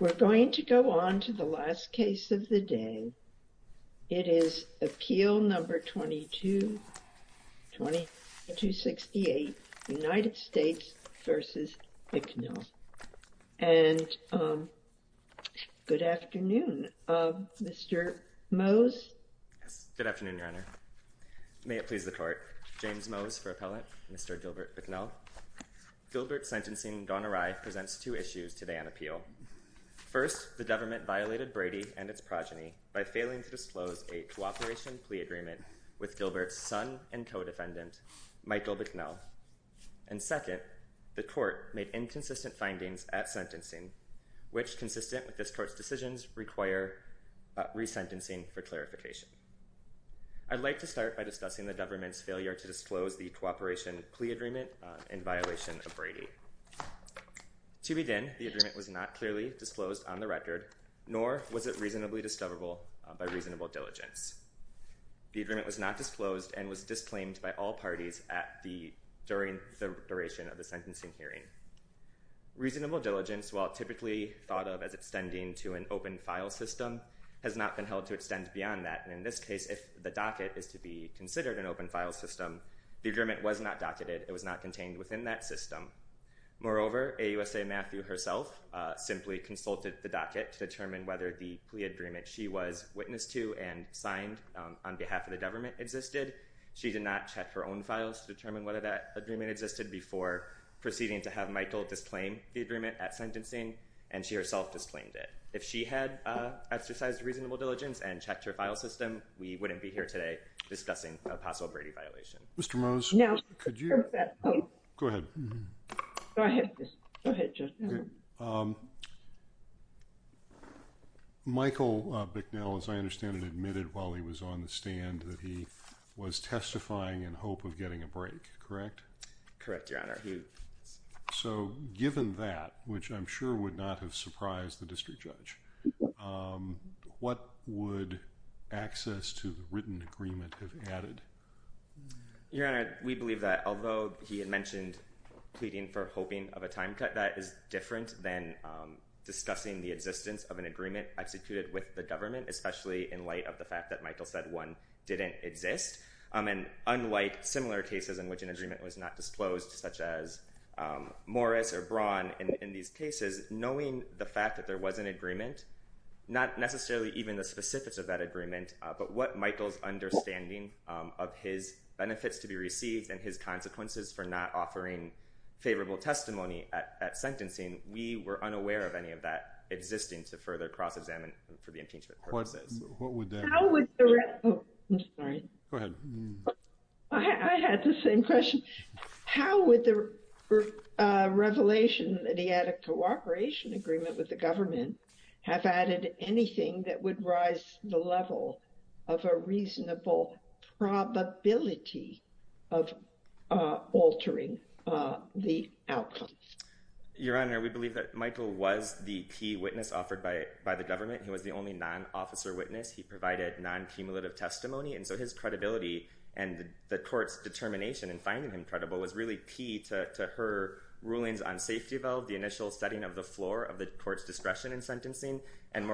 We're going to go on to the last case of the day. It is Appeal No. 2268, United States v. Bicknell. And good afternoon, Mr. Mose. Good afternoon, Your Honor. May it please the Court. James Mose for Appellant, Mr. Gilbert McBride presents two issues today on appeal. First, the government violated Brady and its progeny by failing to disclose a cooperation plea agreement with Gilbert's son and co-defendant, Michael Bicknell. And second, the court made inconsistent findings at sentencing, which consistent with this court's decisions require resentencing for clarification. I'd like to start by discussing the government's failure to disclose the cooperation plea agreement in violation of Brady. To begin, the agreement was not clearly disclosed on the record, nor was it reasonably discoverable by reasonable diligence. The agreement was not disclosed and was disclaimed by all parties during the duration of the sentencing hearing. Reasonable diligence, while typically thought of as extending to an open file system, has not been held to extend beyond that. And in this case, if the docket is to be considered an open file system, the agreement was not docketed. It was not contained within that system. Moreover, AUSA Matthew herself simply consulted the docket to determine whether the plea agreement she was witness to and signed on behalf of the government existed. She did not check her own files to determine whether that agreement existed before proceeding to have Michael disclaim the agreement at sentencing, and she herself disclaimed it. If she had exercised reasonable diligence and checked her file system, we wouldn't be here today discussing a possible Brady violation. Mr. Mose. Now, sir. Could you? Go ahead. Do I have this? Go ahead, Judge. Michael Bicknell, as I understand it, admitted while he was on the stand that he was testifying in hope of getting a break, correct? Correct, Your Honor. So given that, which I'm sure would not have surprised the district judge, what would access to the written agreement have added? Your Honor, we believe that although he had mentioned pleading for hoping of a time cut, that is different than discussing the existence of an agreement executed with the government, especially in light of the fact that Michael said one didn't exist. And unlike similar cases in which an agreement was not disclosed, such as Morris or Braun, in these cases, knowing the fact that there was an agreement, not necessarily even the specifics of that agreement, but what Michael's understanding of his benefits to be received and his consequences for not offering favorable testimony at sentencing, we were unaware of any of that existing to further cross-examine for the impeachment purposes. What would that? I'm sorry. Go ahead. I had the same question. How would the revelation that he had a cooperation agreement with the of a reasonable probability of altering the outcome? Your Honor, we believe that Michael was the key witness offered by the government. He was the only non-officer witness. He provided non-cumulative testimony. And so his credibility and the court's determination in finding him credible was really key to her rulings on safety valve, the initial setting of the floor of the court's discretion in sentencing. And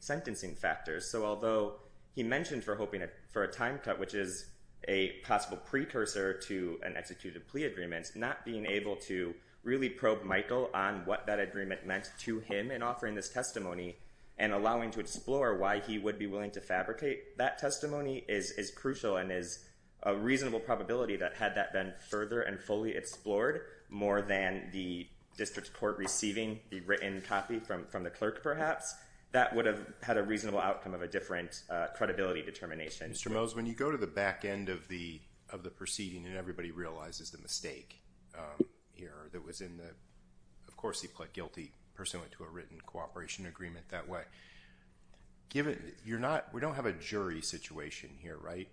So although he mentioned for hoping for a time cut, which is a possible precursor to an executed plea agreements, not being able to really probe Michael on what that agreement meant to him in offering this testimony and allowing to explore why he would be willing to fabricate that testimony is crucial and is a reasonable probability that had that been further and fully explored more than the district's court receiving the written copy from the clerk perhaps, that would have had a reasonable outcome of a different credibility determination. Mr. Mose, when you go to the back end of the proceeding and everybody realizes the mistake here, that was in the, of course he pled guilty pursuant to a written cooperation agreement that way. Given, you're not, we don't have a jury situation here, right?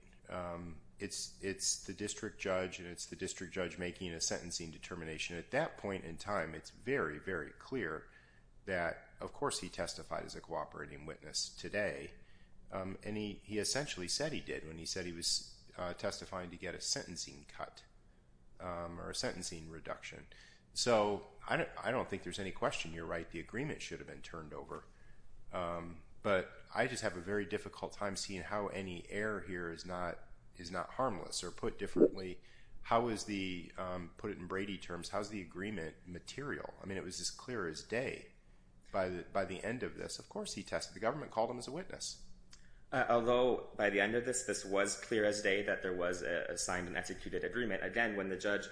It's the district judge and it's the district judge making a sentencing determination. At that point in time, it was clear that of course he testified as a cooperating witness today. Um, and he, he essentially said he did when he said he was testifying to get a sentencing cut, um, or a sentencing reduction. So I don't, I don't think there's any question. You're right. The agreement should have been turned over. Um, but I just have a very difficult time seeing how any air here is not, is not harmless or put differently. How is the, um, put it in Brady terms, how's the agreement material? I mean, it was as clear as day by the, by the end of this. Of course he tested the government, called him as a witness. Uh, although by the end of this, this was clear as day that there was a signed and executed agreement. Again, when the judge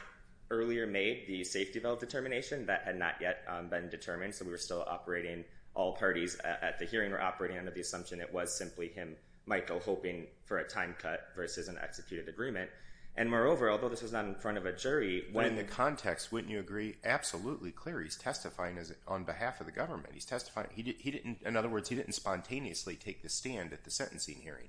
earlier made the safety valve determination that had not yet been determined. So we were still operating all parties at the hearing or operating under the assumption it was simply him, Michael hoping for a time cut versus an executed agreement. And moreover, although this was not in front of a jury when the context, wouldn't you agree? Absolutely clear. He's testifying as on behalf of the government. He's testifying. He didn't, in other words, he didn't spontaneously take the stand at the sentencing hearing.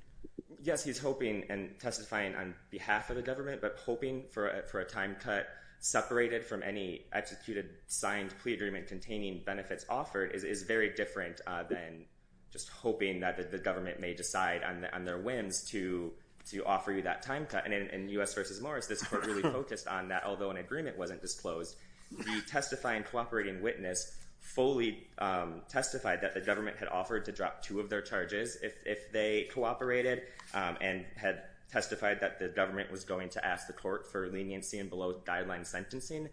Yes, he's hoping and testifying on behalf of the government, but hoping for a, for a time cut separated from any executed signed plea agreement containing benefits offered is, is very different than just hoping that the government may decide on the, on their whims to, to offer you that time cut. And in US versus Morris, this court really focused on that. Although an agreement wasn't disclosed, the testifying cooperating witness fully, um, testified that the government had offered to drop two of their charges if, if they cooperated, um, and had testified that the government was going to ask the court for leniency and below guideline sentencing.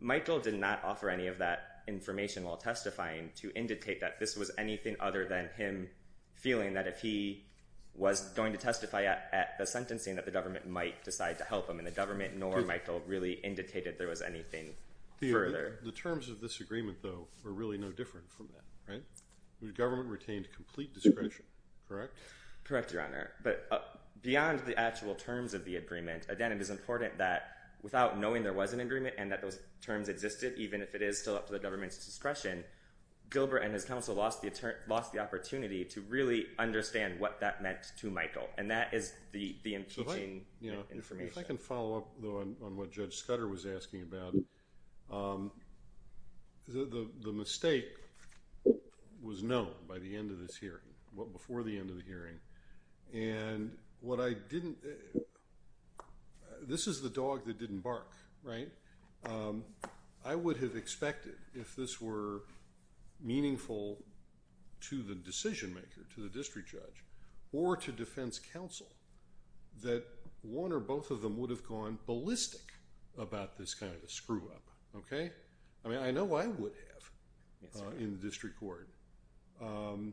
Michael did not offer any of that information while testifying to indicate that this was anything other than him feeling that if he was going to testify at, at the sentencing that the government might decide to help him in the government, nor Michael really indicated there was anything further. The terms of this agreement though, are really no different from that, right? The government retained complete discretion, correct? Correct, your Honor. But beyond the actual terms of the agreement, again, it is important that without knowing there was an agreement and that those terms existed, even if it is still up to the government's discretion, Gilbert and his counsel lost the attorney, lost the If I can follow up though on what Judge Scudder was asking about, um, the, the mistake was known by the end of this hearing, well before the end of the hearing, and what I didn't, this is the dog that didn't bark, right? Um, I would have expected if this were meaningful to the decision maker, to the district judge, or to defense counsel, that one or both of them would have gone ballistic about this kind of a screw up, okay? I mean, I know I would have in the district court. Um,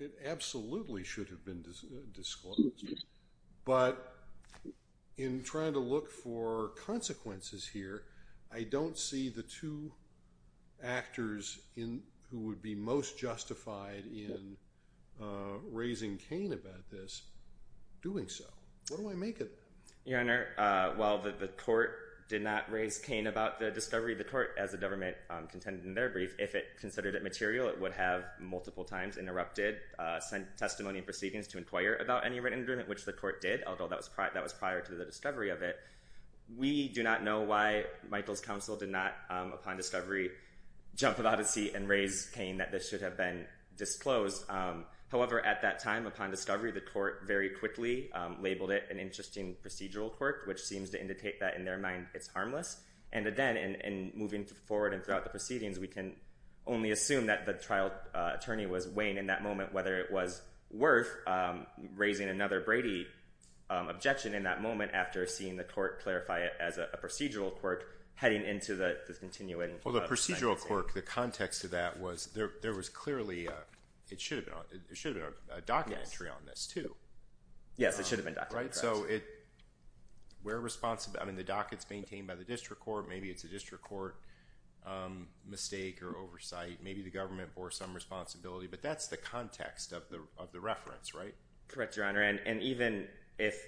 it absolutely should have been disclosed, but in trying to look for consequences here, I don't see the two actors in, who would be most justified in, uh, raising cane about this, doing so. What do I make of that? Your Honor, uh, while the, the court did not raise cane about the discovery, the court, as the government, um, contended in their brief, if it considered it material, it would have multiple times interrupted, uh, sent testimony and proceedings to inquire about any written agreement, which the court did, although that was prior, that was prior to the discovery of it. We do not know why Michael's counsel did not, um, upon discovery, jump out of his seat and raise cane, that this should have been disclosed. Um, however, at that time, upon discovery, the court very quickly, um, labeled it an interesting procedural quirk, which seems to indicate that in their mind, it's harmless. And again, in, in moving forward and throughout the proceedings, we can only assume that the trial, uh, attorney was weighing in that moment whether it was worth, um, raising another Brady, um, objection in that moment after seeing the court clarify it as a, a procedural quirk heading into the, the continuing, uh, trial. Well, the procedural quirk, the context of that was there, there was clearly, uh, it should have been on, it should have been a docket entry on this too. Yes, it should have been docketed. Right? So it, we're responsible, I mean, the docket's maintained by the district court, maybe it's a district court, um, mistake or oversight, maybe the government bore some responsibility, but that's the context of the, of the reference, right? Correct, Your Honor. And, and even if,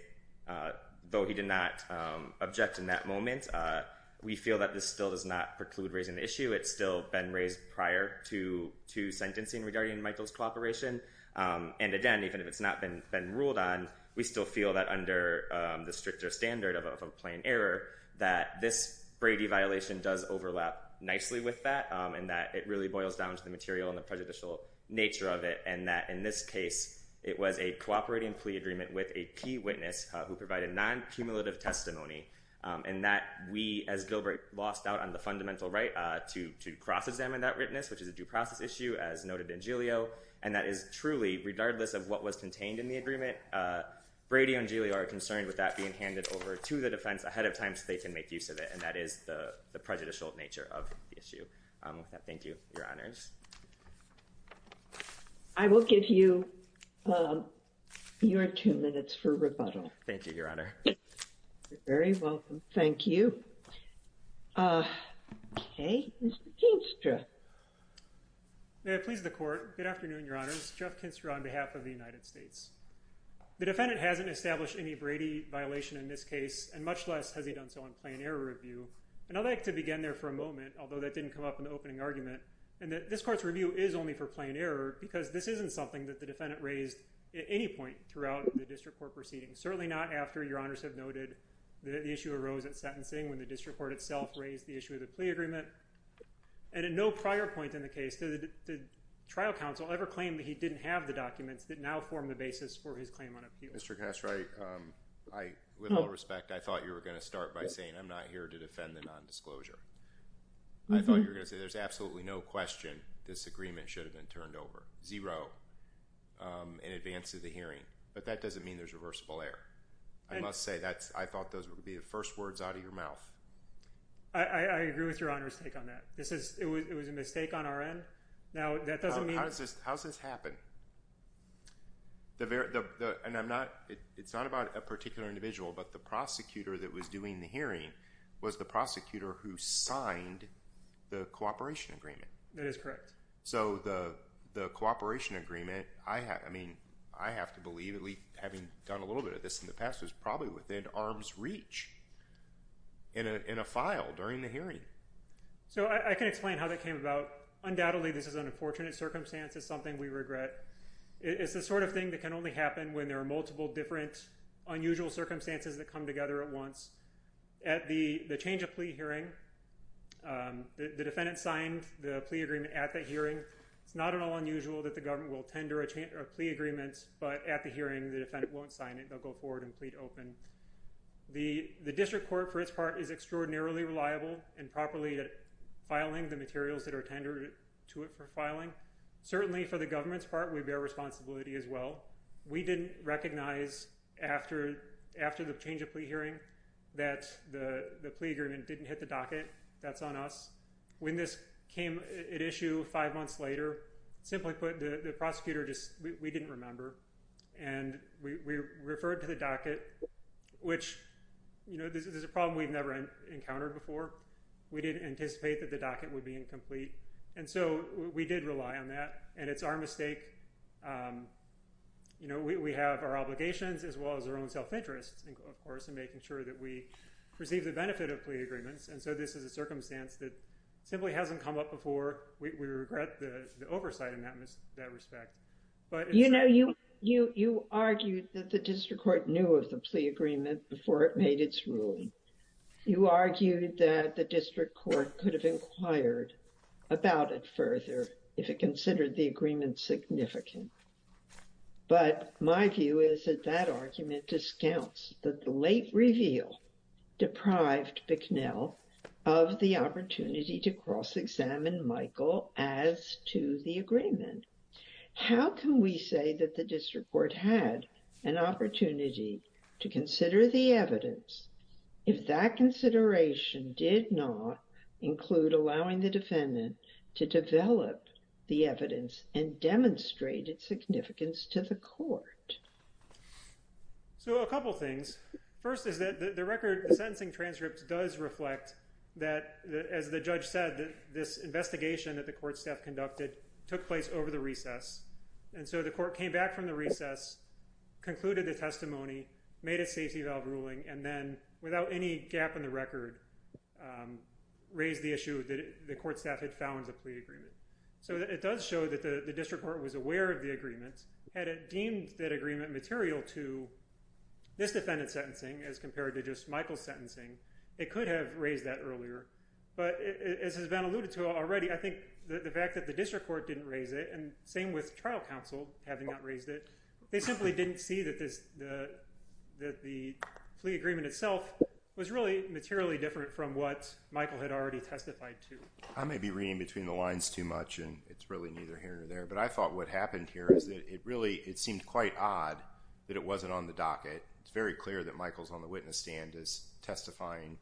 uh, though he did not, um, object in that moment, uh, we feel that this still does not preclude raising the issue. It's still been raised prior to, to sentencing regarding Michael's cooperation. Um, and again, even if it's not been, been ruled on, we still feel that under, um, the stricter standard of a, of a plain error that this Brady violation does overlap nicely with that, um, and that it really boils down to the material and the prejudicial nature of it. And that in this case, it was a cooperating plea agreement with a key witness who provided non-cumulative testimony. Um, and that we as Gilbert lost out on the fundamental right, uh, to, to cross examine that witness, which is a due process issue as noted in Giglio. And that is truly regardless of what was contained in the agreement, uh, Brady and Giglio are concerned with that being handed over to the defense ahead of time so they can make use of it. And that is the prejudicial nature of the issue. Um, with that, thank you, your honors. I will give you, um, your two minutes for rebuttal. Thank you, your honor. You're very welcome. Thank you. Uh, okay. Mr. Kinstra. May I please the court. Good afternoon, your honors. Jeff Kinstra on behalf of the United States. The defendant hasn't established any Brady violation in this case and much less has he done so in plain error review. And I'd like to begin there for a moment, although that didn't come up in the opening argument and that this court's review is only for plain error because this isn't something that the defendant raised at any point throughout the district court proceedings. Certainly not after your honors have noted that the issue arose at sentencing when the district court itself raised the issue of the plea agreement and at no prior point in the case did the trial counsel ever claim that he didn't have the documents that now form the basis for his claim on appeal. Mr. Kinstra, I, um, I, with all respect, I thought you were going to start by saying I'm not here to defend the nondisclosure. I thought you were going to say there's absolutely no question this agreement should have been turned over zero, um, in advance of the hearing, but that doesn't mean there's reversible error. I must say that's, I thought those would be the first words out of your mouth. I, I agree with your honor's take on that. This is, it was, it was a mistake on our end. Now that doesn't mean, how does this, how's this happen? The very, the, the, and I'm not, it's not about a particular individual, but the prosecutor that was doing the hearing was the prosecutor who signed the cooperation agreement. That is correct. So the, the cooperation agreement, I have, I mean, I have to believe, at least having done a little bit of this in the past, was probably within arm's reach in a, in a file during the hearing. So I, I can explain how that came about. Undoubtedly, this is an unfortunate circumstance. It's the sort of thing that can only happen when there are multiple different unusual circumstances that come together at once. At the, the change of plea hearing, um, the, the defendant signed the plea agreement at the hearing. It's not at all unusual that the government will tender a change or a plea agreement, but at the hearing, the defendant won't sign it. They'll go forward and plead open. The, the district court for its part is extraordinarily reliable and properly at filing the materials that are tendered to it for filing. Certainly for the government's part, we bear responsibility as well. We didn't recognize after, after the change of plea hearing that the, the plea agreement didn't hit the docket. That's on us. When this came at issue five months later, simply put, the, the prosecutor just, we, we didn't remember. And we, we referred to the docket, which, you know, this is a problem we've never encountered before. We didn't anticipate that the docket would be incomplete. And so we did rely on that. And it's our mistake. Um, you know, we, we have our obligations as well as our own self-interest, of course, in making sure that we receive the benefit of plea agreements. And so this is a circumstance that simply hasn't come up before. We, we regret the oversight in that, that respect, but... You know, you, you, you argued that the district court knew of the plea agreement before it made its ruling. You argued that the district court could have inquired about it further if it considered the agreement significant. But my view is that that argument discounts that the late reveal deprived Bicknell of the opportunity to cross-examine Michael as to the agreement. How can we say that the district court had an opportunity to consider the evidence if that consideration did not include allowing the defendant to develop the evidence and demonstrate its significance to the court? So a couple things. First is that the record, the sentencing transcript does reflect that as the judge said, that this investigation that the court staff conducted took place over the recess. And so the court came back from the recess, concluded the testimony, made a safety valve ruling, and then without any gap in the record, raised the issue that the court staff had found the plea agreement. So it does show that the district court was aware of the agreement. Had it deemed that agreement material to this defendant's sentencing as compared to just Michael's sentencing, it could have raised that earlier. But as has been alluded to already, I think the fact that the district court didn't raise it, and same with trial counsel having not raised it, they simply didn't see that the plea agreement itself was really materially different from what Michael had already testified to. I may be reading between the lines too much, and it's really neither here nor there, but I thought what happened here is that it really seemed quite odd that it wasn't on the docket. It's very clear that Michael's on the witness stand as testifying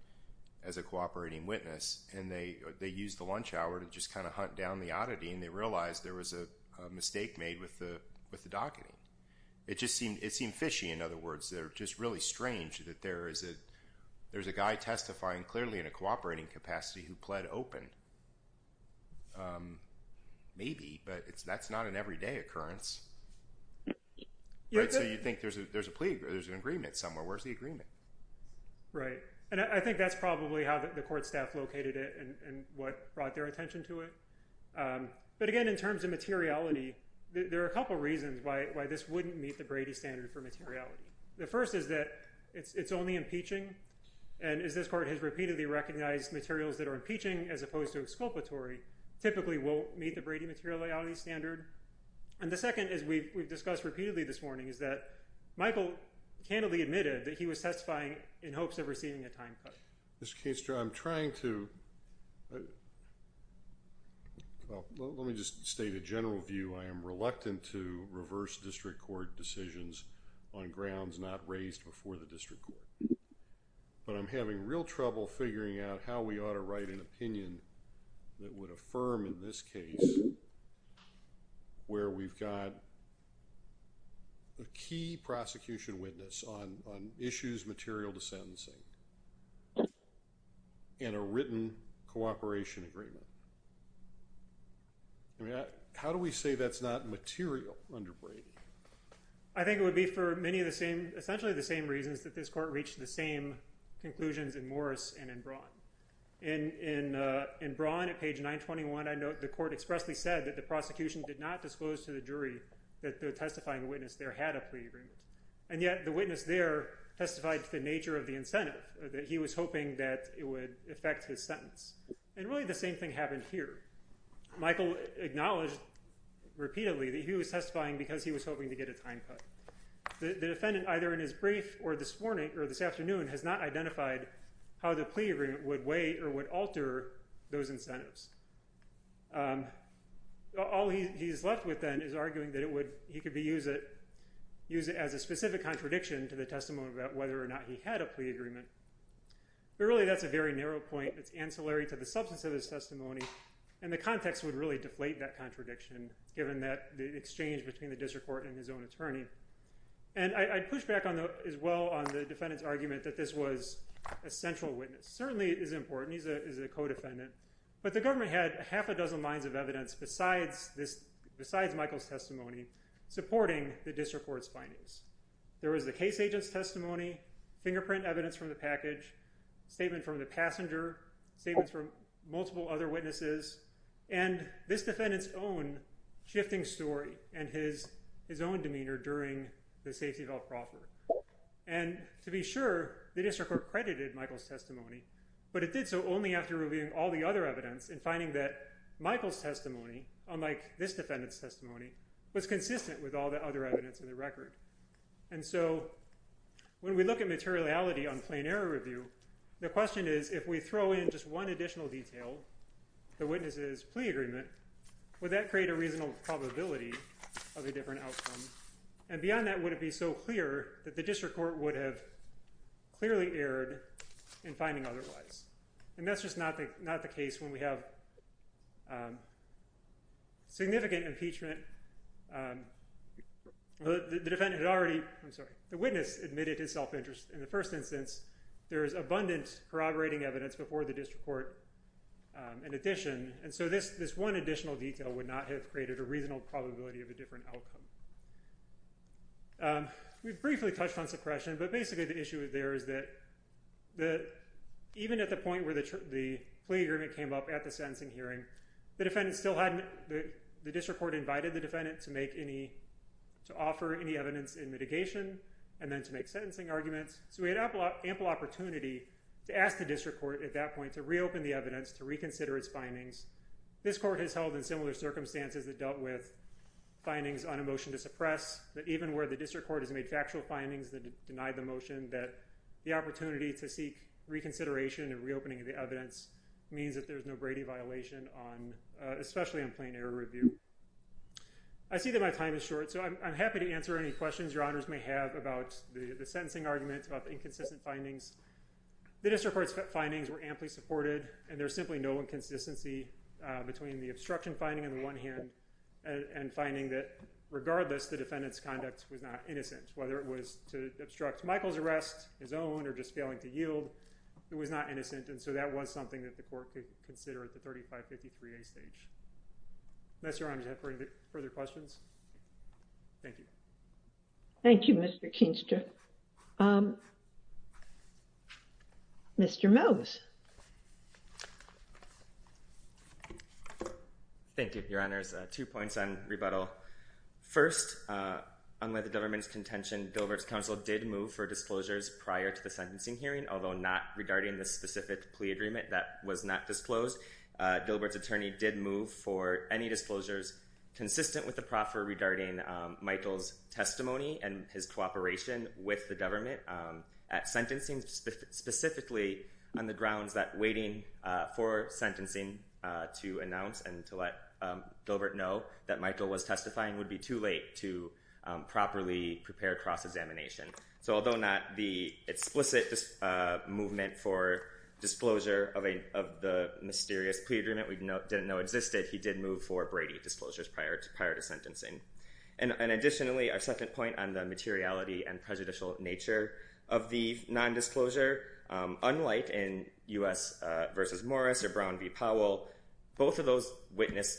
as a cooperating witness. And they used the lunch hour to just kind of hunt down the oddity, and they realized there was a mistake made with the docketing. It just seemed fishy. In other words, they're just really strange that there's a guy testifying clearly in a cooperating capacity who pled open. Maybe, but that's not an everyday occurrence. So you'd think there's an agreement somewhere. Where's the agreement? Right. And I think that's probably how the court staff located it and what brought their In terms of materiality, there are a couple of reasons why this wouldn't meet the Brady standard for materiality. The first is that it's only impeaching, and as this court has repeatedly recognized, materials that are impeaching as opposed to exculpatory typically won't meet the Brady materiality standard. And the second, as we've discussed repeatedly this morning, is that Michael candidly admitted that he was testifying in hopes of receiving a time cut. Mr. Kainstra, I'm trying to, well, let me just state a general view. I am reluctant to reverse district court decisions on grounds not raised before the district court. But I'm having real trouble figuring out how we ought to write an opinion that would affirm in this case where we've got a key prosecution witness on issues material to sentencing and a written cooperation agreement. I mean, how do we say that's not material under Brady? I think it would be for many of the same, essentially the same reasons that this court reached the same conclusions in Morris and in Braun. In Braun, at page 921, I note the court expressly said that the prosecution did not disclose to the jury that the testifying witness there had a plea agreement. And yet the witness there testified to the nature of the incentive, that he was hoping that it would affect his sentence. And really the same thing happened here. Michael acknowledged repeatedly that he was testifying because he was hoping to get a time cut. The defendant, either in his brief or this morning or this afternoon, has not identified how the plea agreement would weigh or would alter those incentives. All he's left with then is arguing that he could use it as a specific contradiction to the testimony about whether or not he had a plea agreement. But really that's a very narrow point. It's ancillary to the substance of his testimony. And the context would really be the district court and his own attorney. And I'd push back as well on the defendant's argument that this was a central witness. Certainly it is important. He's a co-defendant. But the government had half a dozen lines of evidence besides Michael's testimony supporting the district court's findings. There was the case agent's testimony, fingerprint evidence from the package, statement from the passenger, statements from multiple other witnesses, and this defendant's own shifting story and his own demeanor during the safety belt proffer. And to be sure, the district court credited Michael's testimony. But it did so only after reviewing all the other evidence and finding that Michael's testimony, unlike this defendant's testimony, was consistent with all the other evidence in the record. And so when we look at materiality on plain error review, the question is if we throw in just one additional detail, the witness's plea agreement, would that create a reasonable probability of a different outcome? And beyond that, would it be so clear that the district court would have clearly erred in finding otherwise? And that's just not the case when we have significant impeachment. The defendant had already, I'm sorry, the witness admitted his self-interest. In the first instance, there is abundant corroborating evidence before the district court in addition. And so this one additional detail would not have created a reasonable probability of a different outcome. We've briefly touched on suppression, but basically the issue there is that even at the point where the plea agreement came up at the sentencing hearing, the defendant still hadn't, the district court invited the defendant to make any, to So we had ample opportunity to ask the district court at that point to reopen the evidence, to reconsider its findings. This court has held in similar circumstances that dealt with findings on a motion to suppress, that even where the district court has made factual findings that denied the motion, that the opportunity to seek reconsideration and reopening of the evidence means that there's no Brady violation on, especially on plain error review. I see that my time is short, so I'm happy to answer any questions your honors may have about the sentencing argument, about the inconsistent findings. The district court's findings were amply supported and there's simply no inconsistency between the obstruction finding on the one hand and finding that regardless, the defendant's conduct was not innocent, whether it was to obstruct Michael's arrest, his own, or just failing to yield, it was not innocent. And so that was something that the court could consider at the 3553A stage. Unless your honors have further questions. Thank you. Thank you, Mr. Keenstra. Mr. Mose. Thank you, your honors. Two points on rebuttal. First, unlike the government's contention, Dilbert's counsel did move for disclosures prior to the sentencing hearing, although not regarding the specific plea agreement that was not disclosed. Dilbert's attorney did move for any disclosures consistent with the proffer regarding Michael's testimony and his cooperation with the government at sentencing, specifically on the grounds that waiting for sentencing to announce and to let Dilbert know that Michael was testifying would be too late to properly prepare cross-examination. So although not the explicit movement for that, even though it existed, he did move for Brady disclosures prior to sentencing. And additionally, our second point on the materiality and prejudicial nature of the nondisclosure, unlike in U.S. v. Morris or Brown v. Powell, both of those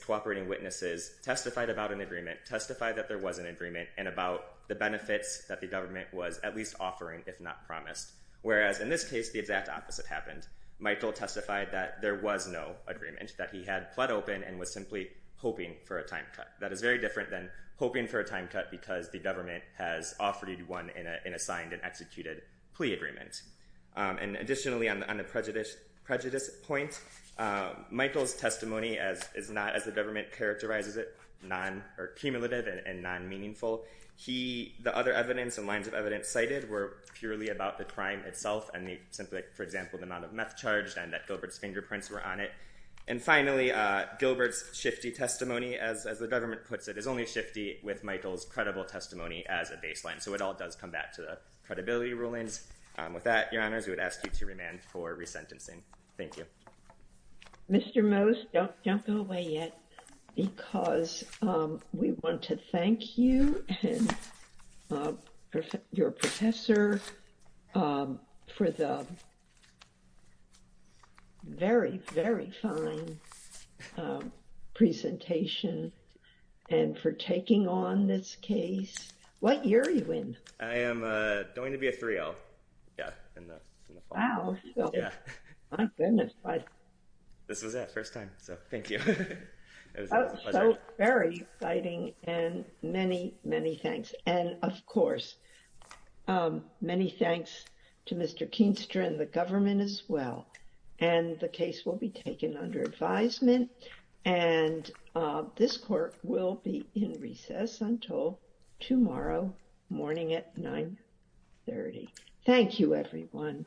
cooperating witnesses testified about an agreement, testified that there was an agreement, and about the benefits that the government was at least offering, if not promised. Whereas in this case, the exact opposite happened. Michael testified that there was no agreement, that he had pled open and was simply hoping for a time cut. That is very different than hoping for a time cut because the government has offered one in a signed and executed plea agreement. And additionally, on the prejudice point, Michael's testimony is not, as the government characterizes it, cumulative and non-meaningful. The other evidence and lines of evidence cited were purely about the crime itself and, for example, the amount of meth charged and that Gilbert's fingerprints were on it. And finally, Gilbert's shifty testimony, as the government puts it, is only shifty with Michael's credible testimony as a baseline. So it all does come back to the credibility rulings. With that, Your Honors, we would ask you to remand for resentencing. Thank you. Mr. Mose, don't go away yet because we want to thank you and your professor for the very, very fine presentation and for taking on this case. What year are you in? I am going to be a 3L. Yeah, in the fall. Wow. My goodness. This was it, first time. So thank you. That was so very exciting and many, many thanks. And of course, many thanks to Mr. Keenstra and the government as well. And the case will be taken under advisement and this court will be in recess until tomorrow morning at 930. Thank you, everyone.